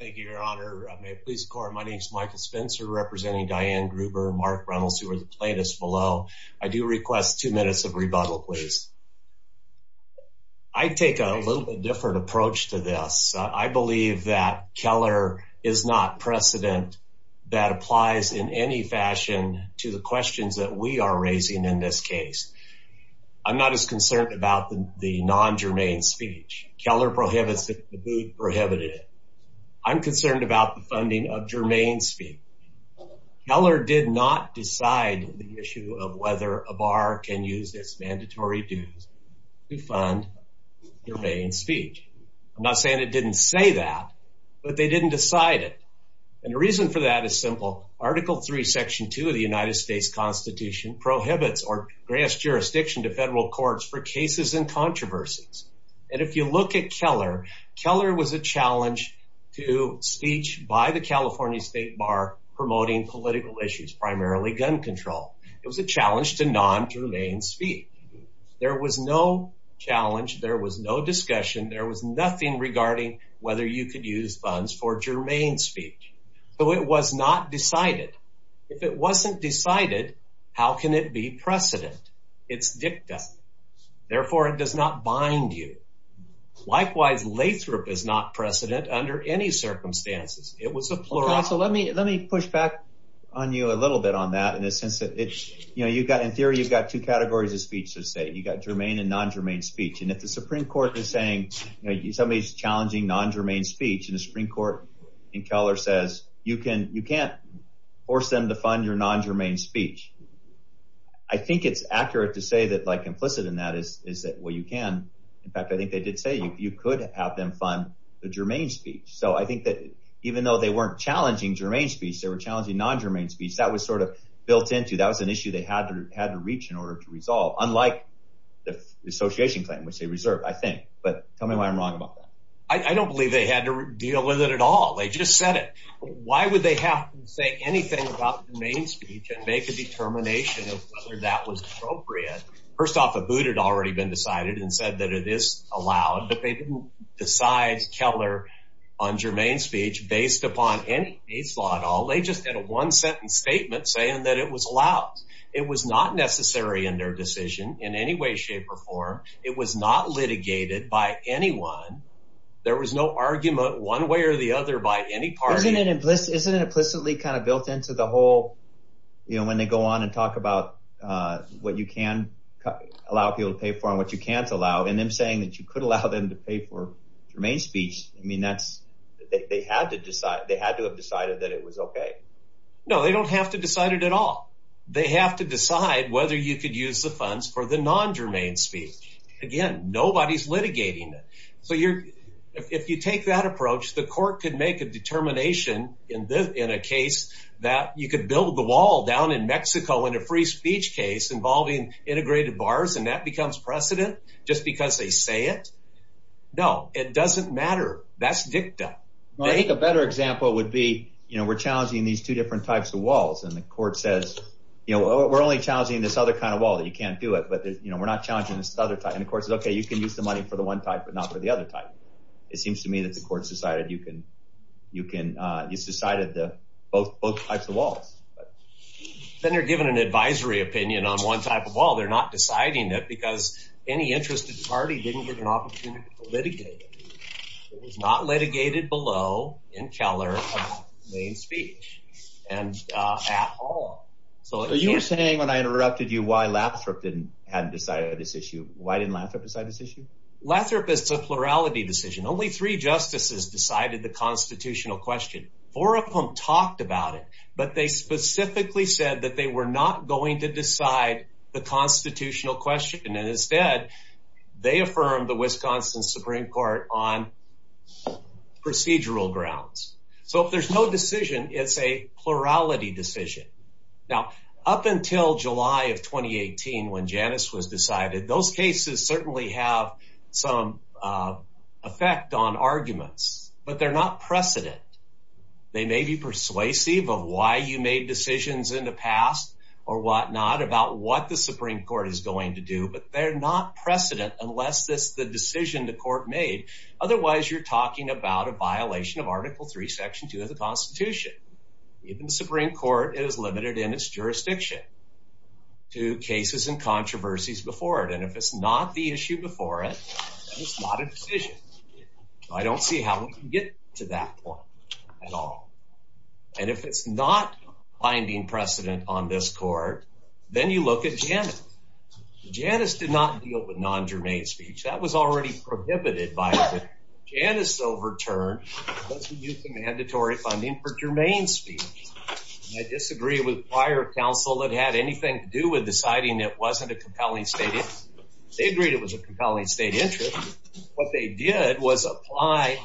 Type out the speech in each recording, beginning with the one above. Thank you, your honor. May it please the court, my name is Michael Spencer representing Diane Gruber, Mark Reynolds, who are the plaintiffs below. I do request two minutes of rebuttal, please. I take a little bit different approach to this. I believe that Keller is not precedent that applies in any fashion to the questions that we are raising in this case. I'm not as concerned about the non-germane speech. Keller prohibits it, the booth prohibited it. I'm concerned about the funding of germane speech. Keller did not decide the issue of whether a bar can use its mandatory dues to fund germane speech. I'm not saying it didn't say that, but they didn't decide it. And the reason for that is simple. Article 3, Section 2 of the United States Constitution prohibits or grants jurisdiction to federal courts for cases and controversies. And if you look at Keller, Keller was a challenge to speech by the California State Bar promoting political issues, primarily gun control. It was a challenge to non-germane speech. There was no challenge, there was no discussion, there was nothing regarding whether you could use funds for germane speech. So it was not decided. If it wasn't decided, how can it be precedent? It's dicta. Therefore, it does not bind you. Likewise, Lathrop is not precedent under any circumstances. It was a plurality. Let me push back on you a little bit on that. In theory, you've got two categories of speech to say. You've got germane and non-germane speech. And if the Supreme Court is saying somebody is challenging non-germane speech and the Supreme Court in Keller says you can't force them to fund your non-germane speech, I think it's accurate to say that implicit in that is that, well, you can. In fact, I think they did say you could have them fund the germane speech. So I think that even though they weren't challenging germane speech, they were challenging non-germane speech. That was sort of built into – that was an issue they had to reach in order to resolve, unlike the association claim, which they reserved, I think. But tell me why I'm wrong about that. I don't believe they had to deal with it at all. They just said it. Why would they have to say anything about germane speech and make a determination of whether that was appropriate? First off, a boot had already been decided and said that it is allowed, but they didn't decide Keller on germane speech based upon any case law at all. They just had a one-sentence statement saying that it was allowed. It was not necessary in their decision in any way, shape, or form. It was not litigated by anyone. There was no argument one way or the other by any party. Isn't it implicitly kind of built into the whole – when they go on and talk about what you can allow people to pay for and what you can't allow, and then saying that you could allow them to pay for germane speech, I mean that's – they had to decide. They had to have decided that it was okay. No, they don't have to decide it at all. They have to decide whether you could use the funds for the non-germane speech. Again, nobody is litigating it. So if you take that approach, the court could make a determination in a case that you could build the wall down in Mexico in a free speech case involving integrated bars and that becomes precedent just because they say it. No, it doesn't matter. That's dicta. I think a better example would be we're challenging these two different types of walls, and the court says we're only challenging this other kind of wall. You can't do it, but we're not challenging this other type. And the court says, okay, you can use the money for the one type but not for the other type. It seems to me that the court has decided you can – it's decided both types of walls. Then they're given an advisory opinion on one type of wall. They're not deciding it because any interested party didn't get an opportunity to litigate it. It was not litigated below in Keller of non-germane speech at all. So you were saying when I interrupted you why Lathrop hadn't decided this issue. Why didn't Lathrop decide this issue? Lathrop is a plurality decision. Only three justices decided the constitutional question. Four of them talked about it, but they specifically said that they were not going to decide the constitutional question. And instead, they affirmed the Wisconsin Supreme Court on procedural grounds. So if there's no decision, it's a plurality decision. Now, up until July of 2018 when Janice was decided, those cases certainly have some effect on arguments, but they're not precedent. They may be persuasive of why you made decisions in the past or whatnot about what the Supreme Court is going to do, but they're not precedent unless it's the decision the court made. Otherwise, you're talking about a violation of Article III, Section 2 of the Constitution. Even the Supreme Court is limited in its jurisdiction to cases and controversies before it. And if it's not the issue before it, then it's not a decision. I don't see how we can get to that point at all. And if it's not finding precedent on this court, then you look at Janice. Janice did not deal with non-germane speech. That was already prohibited by the Janice overturn. It doesn't use the mandatory funding for germane speech. I disagree with prior counsel that had anything to do with deciding it wasn't a compelling state interest. They agreed it was a compelling state interest. What they did was apply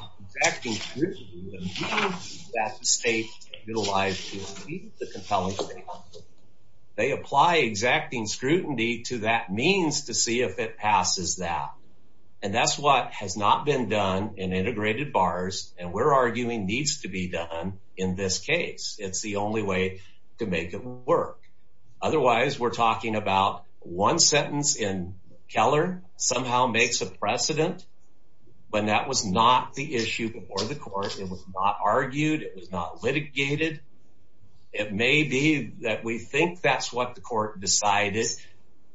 exacting scrutiny to the means that the state utilized to achieve the compelling state interest. They apply exacting scrutiny to that means to see if it passes that. And that's what has not been done in integrated bars and we're arguing needs to be done in this case. It's the only way to make it work. Otherwise, we're talking about one sentence in Keller somehow makes a precedent. But that was not the issue before the court. It was not argued. It was not litigated. It may be that we think that's what the court decided.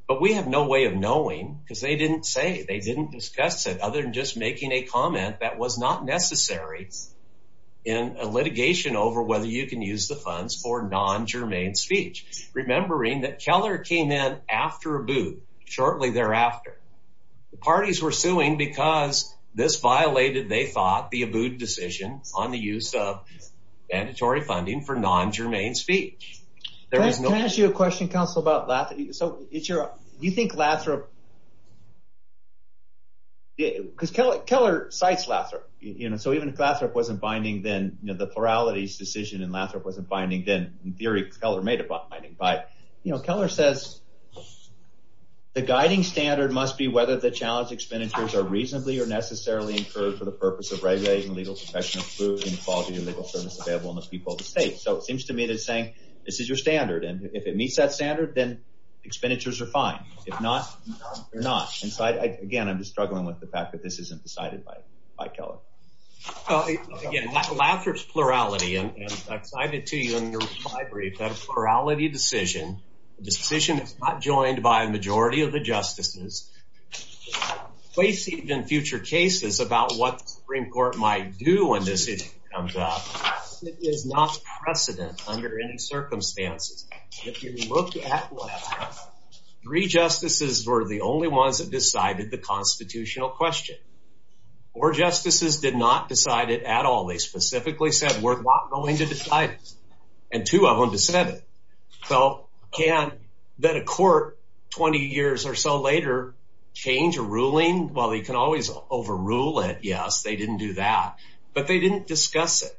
But we have no way of knowing because they didn't say. They didn't discuss it other than just making a comment that was not necessary in a litigation over whether you can use the funds for non-germane speech. Remembering that Keller came in after Abood shortly thereafter. The parties were suing because this violated, they thought, the Abood decision on the use of mandatory funding for non-germane speech. Can I ask you a question, counsel, about Lathrop? So it's your – do you think Lathrop – because Keller cites Lathrop. So even if Lathrop wasn't binding, then the plurality's decision in Lathrop wasn't binding, then in theory Keller made it binding. But Keller says the guiding standard must be whether the challenge expenditures are reasonably or necessarily incurred for the purpose of regulating legal protection of food, inequality, or legal service available in the people of the state. So it seems to me that it's saying this is your standard, and if it meets that standard, then expenditures are fine. If not, they're not. And so I – again, I'm just struggling with the fact that this isn't decided by Keller. Again, Lathrop's plurality, and I've cited to you in your reply brief that a plurality decision, a decision that's not joined by a majority of the justices, placing in future cases about what the Supreme Court might do when this issue comes up is not precedent under any circumstances. If you look at Lathrop, three justices were the only ones that decided the constitutional question. Four justices did not decide it at all. They specifically said we're not going to decide it, and two of them dissented. So can a court 20 years or so later change a ruling? Well, they can always overrule it. Yes, they didn't do that, but they didn't discuss it.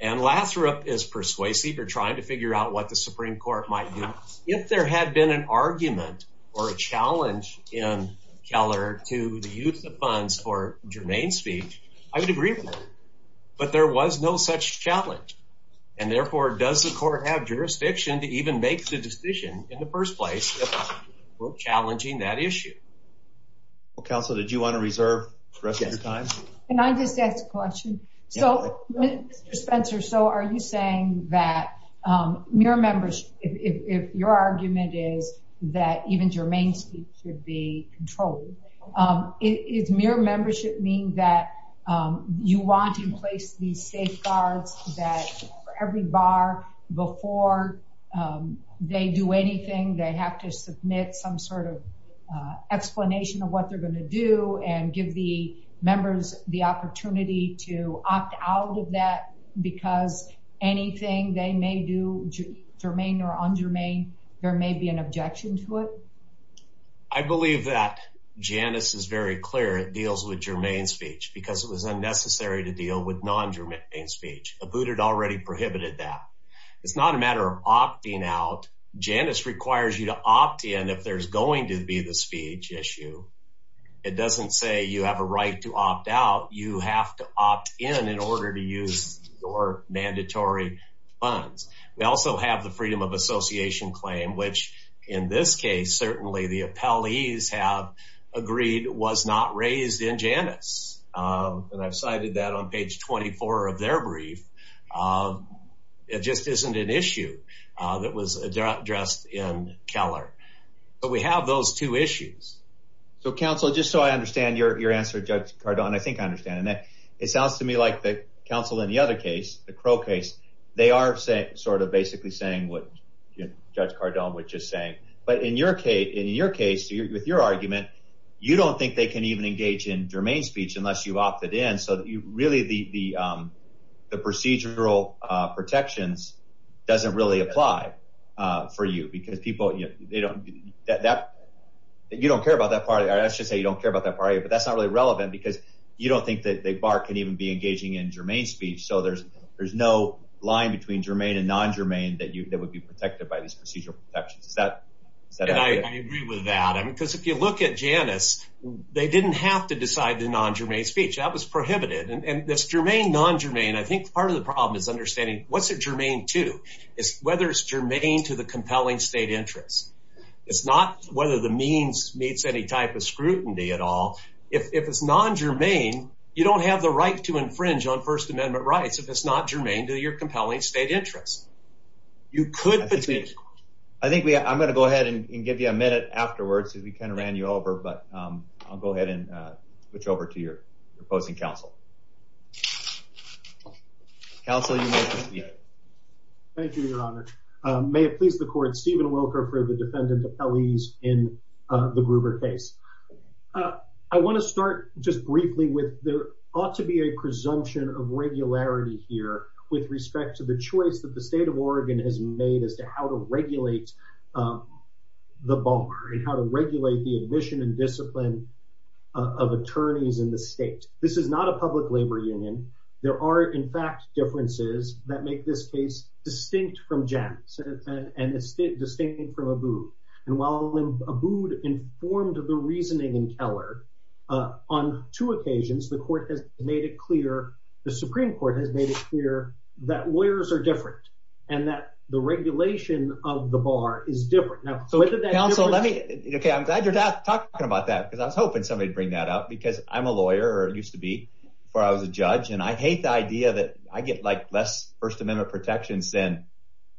And Lathrop is persuasive. They're trying to figure out what the Supreme Court might do. If there had been an argument or a challenge in Keller to the use of funds for germane speech, I would agree with him. But there was no such challenge. And, therefore, does the court have jurisdiction to even make the decision in the first place if we're challenging that issue? Well, counsel, did you want to reserve the rest of your time? Can I just ask a question? So, Mr. Spencer, so are you saying that mere membership, if your argument is that even germane speech should be controlled, does mere membership mean that you want to place these safeguards that for every bar, before they do anything, they have to submit some sort of explanation of what they're going to do and give the members the opportunity to opt out of that because anything they may do, germane or undermane, there may be an objection to it? I believe that Janice is very clear it deals with germane speech because it was unnecessary to deal with non-germane speech. Abood had already prohibited that. It's not a matter of opting out. Janice requires you to opt in if there's going to be the speech issue. It doesn't say you have a right to opt out. You have to opt in in order to use your mandatory funds. We also have the freedom of association claim, which in this case, certainly the appellees have agreed was not raised in Janice. And I've cited that on page 24 of their brief. It just isn't an issue that was addressed in Keller. But we have those two issues. So, counsel, just so I understand your answer, Judge Cardone, I think I understand. It sounds to me like the counsel in the other case, the Crow case, they are sort of basically saying what Judge Cardone was just saying. But in your case, with your argument, you don't think they can even engage in germane speech unless you've opted in. So, really, the procedural protections doesn't really apply for you because people, you know, they don't, that, you don't care about that part. But that's not really relevant because you don't think that the bar can even be engaging in germane speech. So, there's no line between germane and non-germane that would be protected by these procedural protections. Is that right? I agree with that. Because if you look at Janice, they didn't have to decide the non-germane speech. That was prohibited. And it's germane, non-germane. I think part of the problem is understanding what's it germane to. It's whether it's germane to the compelling state interest. It's not whether the means meets any type of scrutiny at all. If it's non-germane, you don't have the right to infringe on First Amendment rights if it's not germane to your compelling state interest. You could petition. I think we, I'm going to go ahead and give you a minute afterwards because we kind of ran you over. But I'll go ahead and switch over to your opposing counsel. Counsel, you may proceed. Thank you, Your Honor. May it please the Court, Stephen Wilker for the Defendant Appellees in the Gruber case. I want to start just briefly with there ought to be a presumption of regularity here with respect to the choice that the state of Oregon has made as to how to regulate the bar and how to regulate the admission and discipline of attorneys in the state. This is not a public labor union. There are, in fact, differences that make this case distinct from Jantz and distinct from Abood. And while Abood informed the reasoning in Keller, on two occasions the Supreme Court has made it clear that lawyers are different and that the regulation of the bar is different. Counsel, I'm glad you're talking about that because I was hoping somebody would bring that up because I'm a lawyer or used to be before I was a judge. And I hate the idea that I get like less First Amendment protections than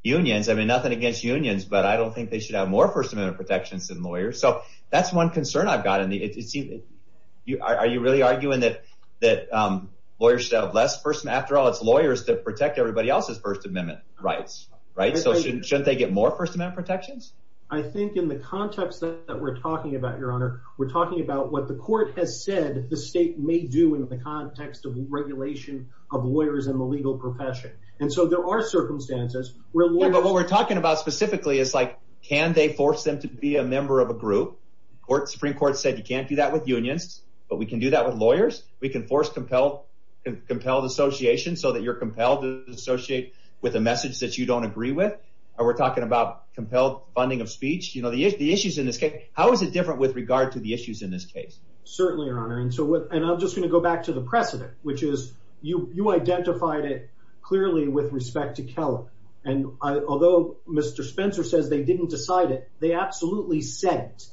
unions. I mean nothing against unions, but I don't think they should have more First Amendment protections than lawyers. So that's one concern I've got. Are you really arguing that lawyers should have less First Amendment? After all, it's lawyers that protect everybody else's First Amendment rights. So shouldn't they get more First Amendment protections? I think in the context that we're talking about, Your Honor, we're talking about what the court has said the state may do in the context of regulation of lawyers in the legal profession. And so there are circumstances where lawyers… Yeah, but what we're talking about specifically is like can they force them to be a member of a group? The Supreme Court said you can't do that with unions, but we can do that with lawyers. We can force compelled associations so that you're compelled to associate with a message that you don't agree with. We're talking about compelled funding of speech. You know, the issues in this case, how is it different with regard to the issues in this case? Certainly, Your Honor. And I'm just going to go back to the precedent, which is you identified it clearly with respect to Keller. And although Mr. Spencer says they didn't decide it, they absolutely said it.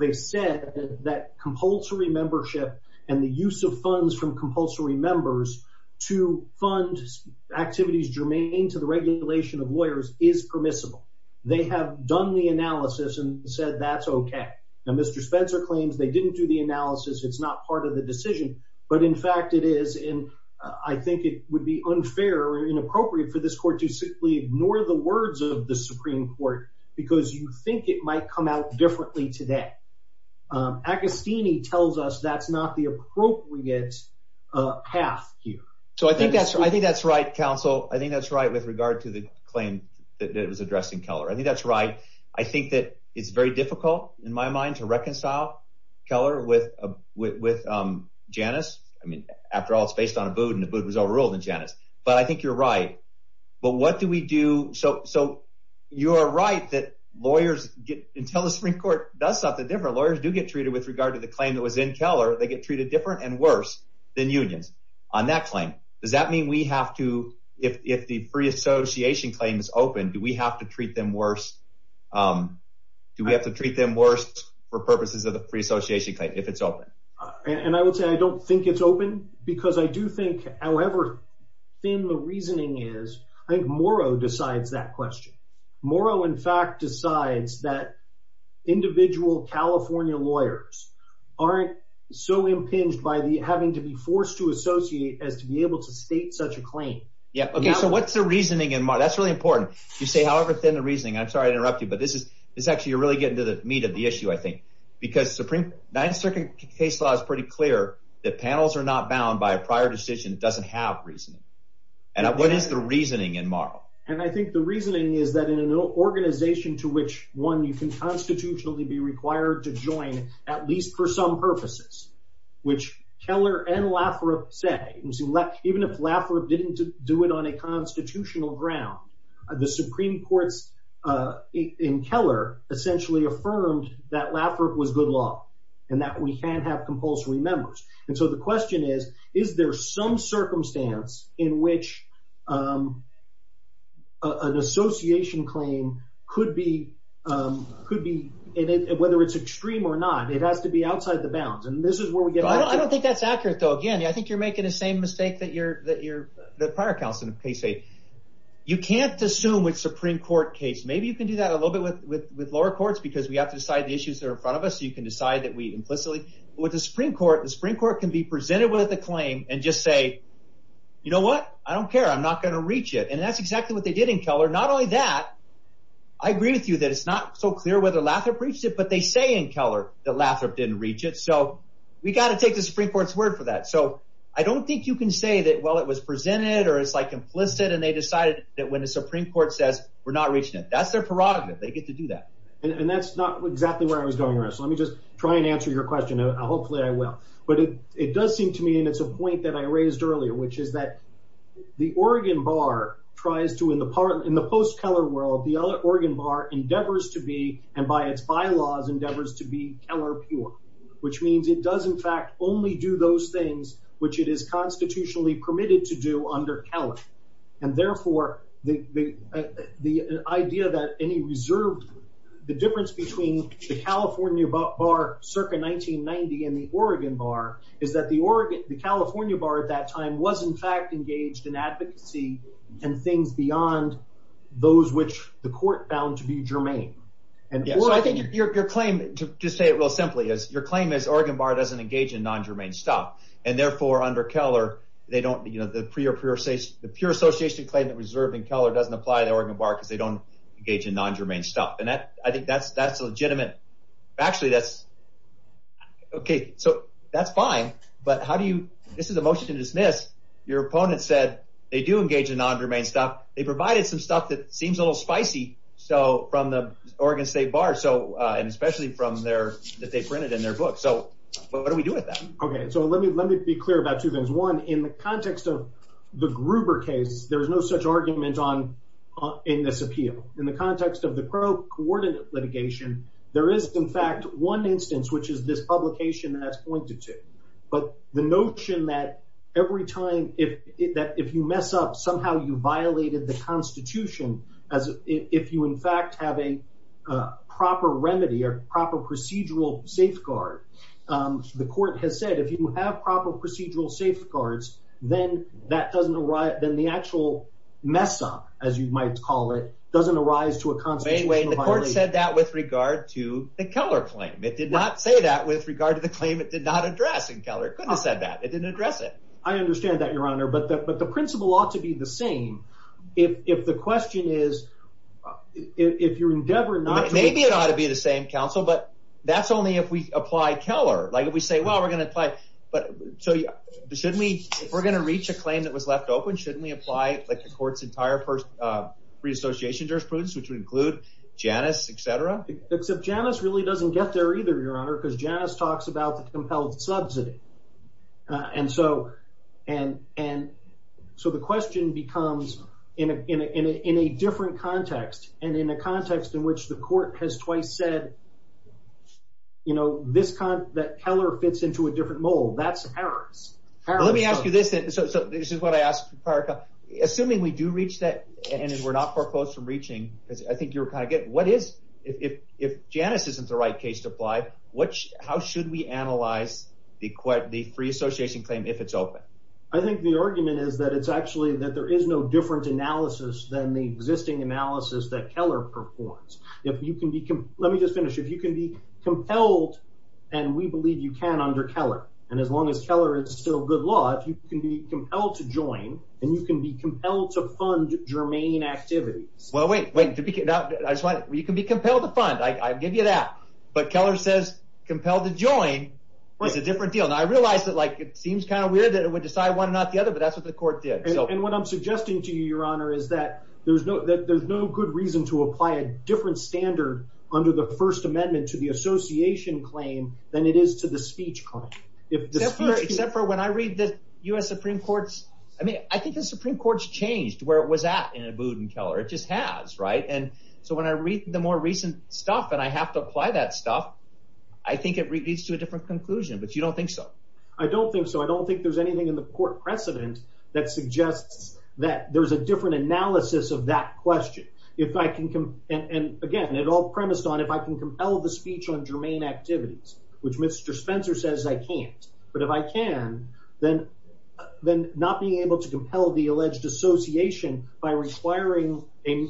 They said that compulsory membership and the use of funds from compulsory members to fund activities germane to the regulation of lawyers is permissible. They have done the analysis and said that's okay. Now, Mr. Spencer claims they didn't do the analysis. It's not part of the decision. But, in fact, it is. And I think it would be unfair or inappropriate for this court to simply ignore the words of the Supreme Court because you think it might come out differently today. Agostini tells us that's not the appropriate path here. So I think that's right. I think that's right, counsel. I think that's right with regard to the claim that was addressed in Keller. I think that's right. I think that it's very difficult, in my mind, to reconcile Keller with Janus. I mean, after all, it's based on a boot, and the boot was overruled in Janus. But I think you're right. But what do we do? So you are right that lawyers get – until the Supreme Court does something different, lawyers do get treated with regard to the claim that was in Keller. They get treated different and worse than unions on that claim. Does that mean we have to – if the free association claim is open, do we have to treat them worse? Do we have to treat them worse for purposes of the free association claim if it's open? And I would say I don't think it's open because I do think, however thin the reasoning is, I think Morrow decides that question. Morrow, in fact, decides that individual California lawyers aren't so impinged by having to be forced to associate as to be able to state such a claim. Okay, so what's the reasoning in Morrow? That's really important. You say, however thin the reasoning. I'm sorry to interrupt you, but this is – this is actually – you're really getting to the meat of the issue, I think, because Supreme – Ninth Circuit case law is pretty clear that panels are not bound by a prior decision that doesn't have reasoning. And what is the reasoning in Morrow? And I think the reasoning is that in an organization to which, one, you can constitutionally be required to join, at least for some purposes, which Keller and Laffer said, even if Laffer didn't do it on a constitutional ground, the Supreme Court in Keller essentially affirmed that Laffer was good law and that we can't have compulsory members. And so the question is, is there some circumstance in which an association claim could be – whether it's extreme or not, it has to be outside the bounds. And this is where we get – I don't think that's accurate though. Again, I think you're making the same mistake that your – that prior counsel in the case made. You can't assume with Supreme Court case. Maybe you can do that a little bit with lower courts because we have to decide the issues that are in front of us, so you can decide that we implicitly – with the Supreme Court, the Supreme Court can be presented with a claim and just say, you know what? I don't care. I'm not going to reach it. And that's exactly what they did in Keller. Not only that, I agree with you that it's not so clear whether Laffer breached it, but they say in Keller that Laffer didn't reach it. So we've got to take the Supreme Court's word for that. So I don't think you can say that, well, it was presented or it's like implicit and they decided that when the Supreme Court says we're not reaching it. That's their parodic. They get to do that. And that's not exactly where I was going with this. Let me just try and answer your question. Hopefully I will. But it does seem to me, and it's a point that I raised earlier, which is that the Oregon Bar tries to, in the post-Keller world, the Oregon Bar endeavors to be, and by its bylaws, endeavors to be Keller pure, which means it does, in fact, only do those things which it is constitutionally permitted to do under Keller. And therefore, the idea that any reserve, the difference between the California Bar circa 1990 and the Oregon Bar is that the California Bar at that time was, in fact, engaged in advocacy and things beyond those which the court found to be germane. So I think your claim, to say it real simply, is your claim is Oregon Bar doesn't engage in non-germane stuff. And therefore, under Keller, they don't – the pure association claim that was reserved in Keller doesn't apply to the Oregon Bar because they don't engage in non-germane stuff. And I think that's legitimate. Actually, that's – okay, so that's fine. But how do you – this is a motion to dismiss. Your opponent said they do engage in non-germane stuff. They provided some stuff that seems a little spicy from the Oregon State Bar and especially from their – that they printed in their book. So what do we do with that? Okay, so let me be clear about two things. One, in the context of the Gruber case, there is no such argument in this appeal. In the context of the Crow Coordinate litigation, there is, in fact, one instance, which is this publication that's pointed to. But the notion that every time – that if you mess up, somehow you violated the Constitution as if you, in fact, have a proper remedy or proper procedural safeguard. The court has said if you have proper procedural safeguards, then that doesn't – then the actual mess-up, as you might call it, doesn't arise to a constitutional violation. It only said that with regard to the Keller claim. It did not say that with regard to the claim it did not address, and Keller could have said that. It didn't address it. I understand that, Your Honor, but the principle ought to be the same if the question is – if your endeavor not to – Maybe it ought to be the same, counsel, but that's only if we apply Keller. Like if we say, well, we're going to apply – but so shouldn't we – if we're going to reach a claim that was left open, shouldn't we apply, like, the court's entire free association jurisprudence, which would include Janus, etc.? Except Janus really doesn't get there either, Your Honor, because Janus talks about the compelled subsidy. And so the question becomes in a different context and in a context in which the court has twice said, you know, this – that Keller fits into a different mold. That's Harris. Let me ask you this then. So this is what I asked prior – assuming we do reach that and we're not far close from reaching, because I think you were kind of getting – what is – if Janus isn't the right case to apply, how should we analyze the free association claim if it's open? I think the argument is that it's actually – that there is no different analysis than the existing analysis that Keller performs. Let me just finish. If you can be compelled – and we believe you can under Keller, and as long as Keller is still good law – if you can be compelled to join and you can be compelled to fund germane activities. Well, wait. You can be compelled to fund. I give you that. But Keller says compelled to join is a different deal. Now, I realize that, like, it seems kind of weird that it would decide one and not the other, but that's what the court did. And what I'm suggesting to you, Your Honor, is that there's no good reason to apply a different standard under the First Amendment to the association claim than it is to the speech claim. Except for when I read the U.S. Supreme Court's – I mean I think the Supreme Court's changed where it was at in Abood and Keller. It just has, right? And so when I read the more recent stuff and I have to apply that stuff, I think it leads to a different conclusion. But you don't think so? I don't think so. I don't think there's anything in the court precedent that suggests that there's a different analysis of that question. If I can – and, again, it all premised on if I can compel the speech on germane activities, which Mr. Spencer says I can't. But if I can, then not being able to compel the alleged association by requiring a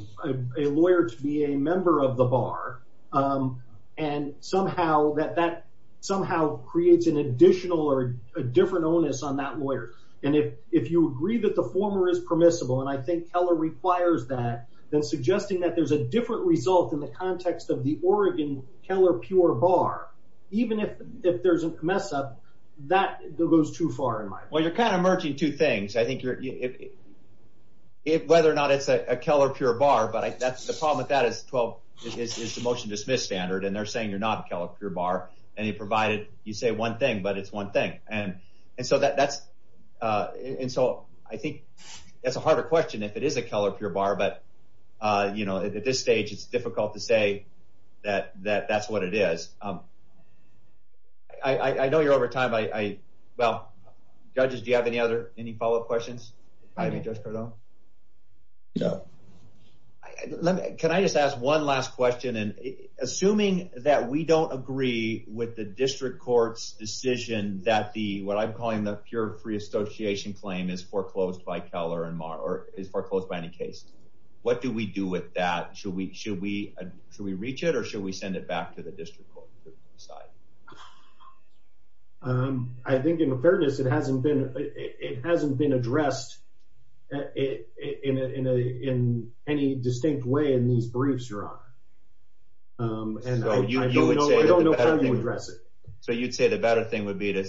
lawyer to be a member of the bar and somehow that – that somehow creates an additional or a different onus on that lawyer. And if you agree that the former is permissible, and I think Keller requires that, then suggesting that there's a different result in the context of the Oregon Keller Pure Bar, even if there's a mess-up, that goes too far in my book. Well, you're kind of merging two things. I think you're – whether or not it's a Keller Pure Bar, but the problem with that is the motion-dismiss standard, and they're saying you're not a Keller Pure Bar. And you provided – you say one thing, but it's one thing. And so that's – and so I think that's a harder question if it is a Keller Pure Bar, but at this stage it's difficult to say that that's what it is. I know you're over time. I – well, judges, do you have any other – any follow-up questions? I mean, Judge Cardone? No. Let me – can I just ask one last question? And assuming that we don't agree with the district court's decision that the – what I'm calling the pure free association claim is foreclosed by Keller and – or is foreclosed by any case, what do we do with that? Should we reach it, or should we send it back to the district court to decide? I think, in fairness, it hasn't been addressed in any distinct way in these briefs, Your Honor. And I don't know how you would address it. So you'd say the better thing would be to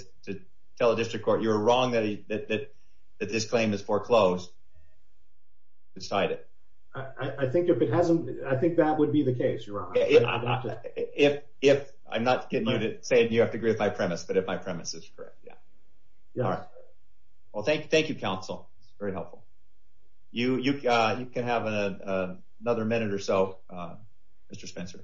tell the district court you're wrong, that this claim is foreclosed, decide it. I think if it hasn't – I think that would be the case, Your Honor. If – I'm not saying you have to agree with my premise, but if my premise is correct, yeah. All right. Well, thank you, counsel. That's very helpful. You can have another minute or so, Mr. Spencer.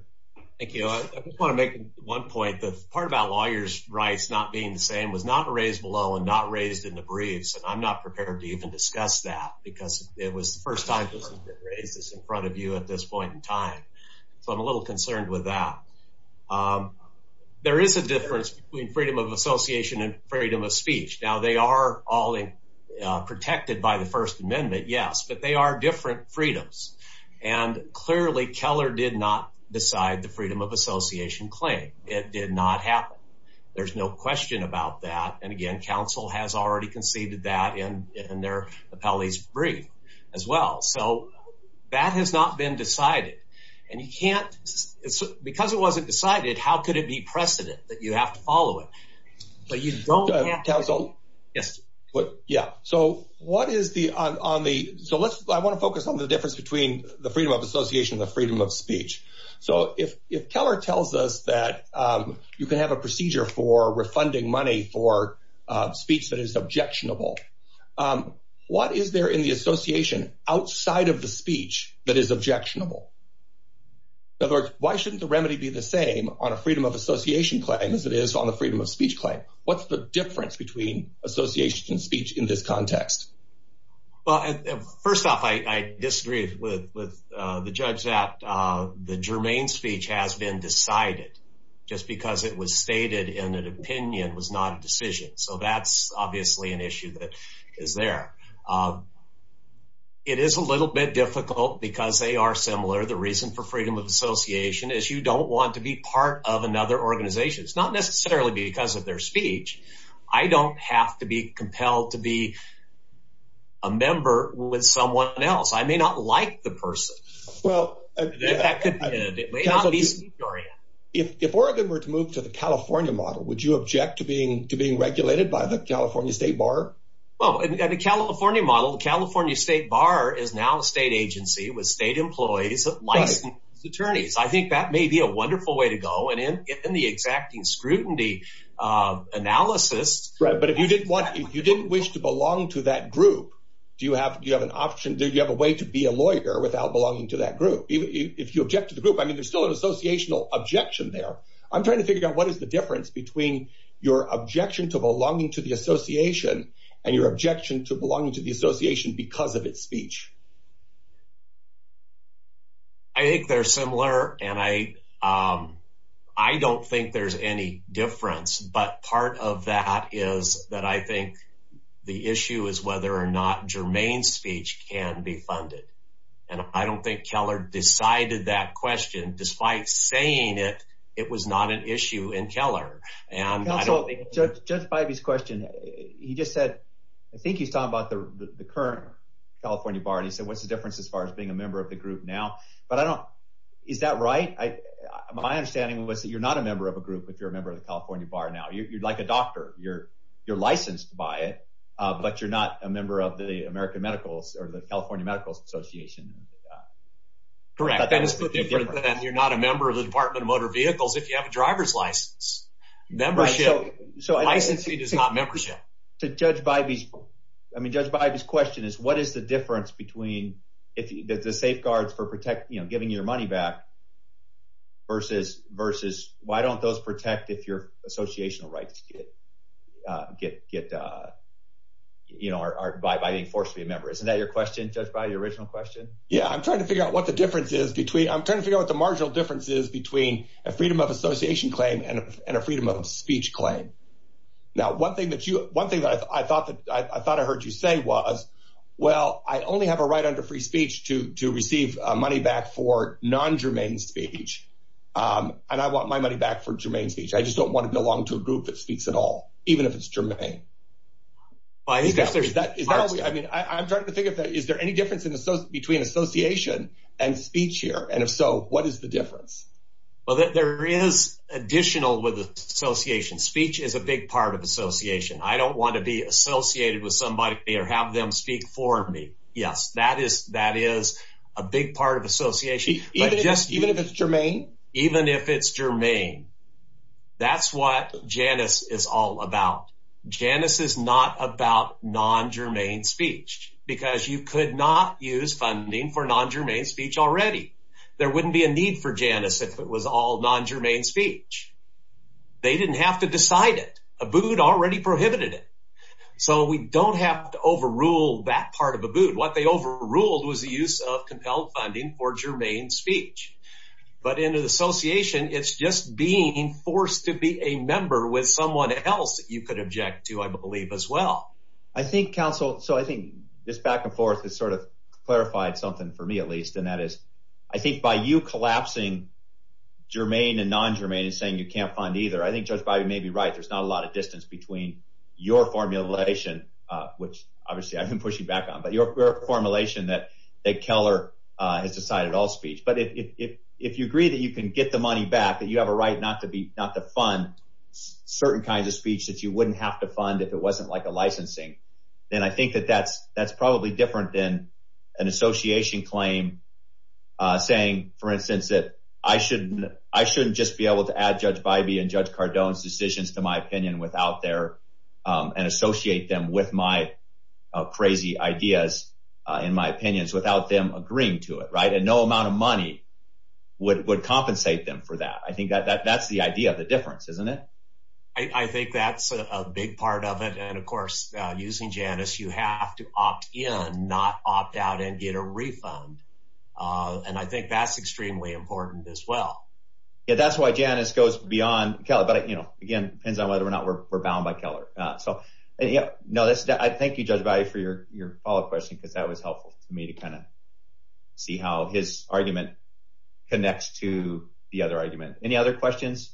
Thank you. I just want to make one point. The part about lawyers' rights not being the same was not raised below and not raised in the briefs, and I'm not prepared to even discuss that because it was the first time this has been raised in front of you at this point in time. So I'm a little concerned with that. There is a difference between freedom of association and freedom of speech. Now, they are all protected by the First Amendment, yes, but they are different freedoms. And clearly Keller did not decide the freedom of association claim. It did not happen. There's no question about that, and again, counsel has already conceded that in their appellee's brief as well. So that has not been decided, and you can't – because it wasn't decided, how could it be precedent that you have to follow it? But you don't have to. Counsel? Yes. Yeah. So what is the – on the – so let's – I want to focus on the difference between the freedom of association and the freedom of speech. So if Keller tells us that you can have a procedure for refunding money for speech that is objectionable, what is there in the association outside of the speech that is objectionable? In other words, why shouldn't the remedy be the same on a freedom of association claim as it is on the freedom of speech claim? What's the difference between association and speech in this context? Well, first off, I disagree with the judge that the germane speech has been decided just because it was stated in an opinion, was not a decision. So that's obviously an issue that is there. It is a little bit difficult because they are similar. The reason for freedom of association is you don't want to be part of another organization. It's not necessarily because of their speech. I don't have to be compelled to be a member with someone else. I may not like the person. Well – It may not be speech oriented. If Oregon were to move to the California model, would you object to being regulated by the California State Bar? Well, in the California model, the California State Bar is now a state agency with state employees that license attorneys. I think that may be a wonderful way to go. In the exacting scrutiny analysis – Right, but if you didn't wish to belong to that group, do you have an option? Do you have a way to be a lawyer without belonging to that group? If you object to the group, I mean there's still an associational objection there. I'm trying to figure out what is the difference between your objection to belonging to the association and your objection to belonging to the association because of its speech. I think they're similar and I don't think there's any difference. But part of that is that I think the issue is whether or not germane speech can be funded. And I don't think Keller decided that question. Despite saying it, it was not an issue in Keller. Counsel, Judge Bivey's question, he just said – I think he's talking about the current California Bar. And he said what's the difference as far as being a member of the group now. But I don't – is that right? My understanding was that you're not a member of a group if you're a member of the California Bar now. You're like a doctor. You're licensed by it, but you're not a member of the American Medicals or the California Medical Association. Correct. That is the difference. And you're not a member of the Department of Motor Vehicles if you have a driver's license. Membership. Licensing is not membership. So Judge Bivey's – I mean Judge Bivey's question is what is the difference between the safeguards for giving your money back versus why don't those protect if your associational rights get – are by being forced to be a member. Isn't that your question, Judge Bivey, your original question? Yeah, I'm trying to figure out what the difference is between – I'm trying to figure out what the marginal difference is between a freedom of association claim and a freedom of speech claim. Now, one thing that you – one thing that I thought I heard you say was, well, I only have a right under free speech to receive money back for non-germane speech, and I want my money back for germane speech. I just don't want to belong to a group that speaks at all even if it's germane. Well, I think that's – I mean, I'm trying to figure out is there any difference between association and speech here, and if so, what is the difference? Well, there is additional with association. Speech is a big part of association. I don't want to be associated with somebody or have them speak for me. Yes, that is a big part of association. Even if it's germane? Even if it's germane. That's what Janus is all about. Janus is not about non-germane speech because you could not use funding for non-germane speech already. There wouldn't be a need for Janus if it was all non-germane speech. They didn't have to decide it. Abood already prohibited it. So we don't have to overrule that part of Abood. What they overruled was the use of compelled funding for germane speech. But in an association, it's just being forced to be a member with someone else that you could object to, I believe, as well. I think, counsel – so I think this back and forth has sort of clarified something for me at least, and that is I think by you collapsing germane and non-germane and saying you can't fund either, I think Judge Bybee may be right. There's not a lot of distance between your formulation, which obviously I've been pushing back on, but your formulation that Keller has decided all speech. But if you agree that you can get the money back, that you have a right not to fund certain kinds of speech that you wouldn't have to fund if it wasn't like a licensing, then I think that that's probably different than an association claim saying, for instance, that I shouldn't just be able to add Judge Bybee and Judge Cardone's decisions to my opinion without their – and associate them with my crazy ideas in my opinions without them agreeing to it, right? And no amount of money would compensate them for that. I think that's the idea of the difference, isn't it? I think that's a big part of it. And, of course, using Janus, you have to opt in, not opt out and get a refund. And I think that's extremely important as well. Yeah, that's why Janus goes beyond Keller. But, again, it depends on whether or not we're bound by Keller. Thank you, Judge Bybee, for your follow-up question because that was helpful to me to kind of see how his argument connects to the other argument. Any other questions,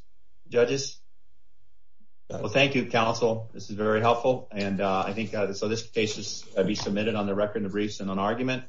judges? Well, thank you, counsel. This is very helpful. And I think – so this case will be submitted on the record in the briefs in an argument.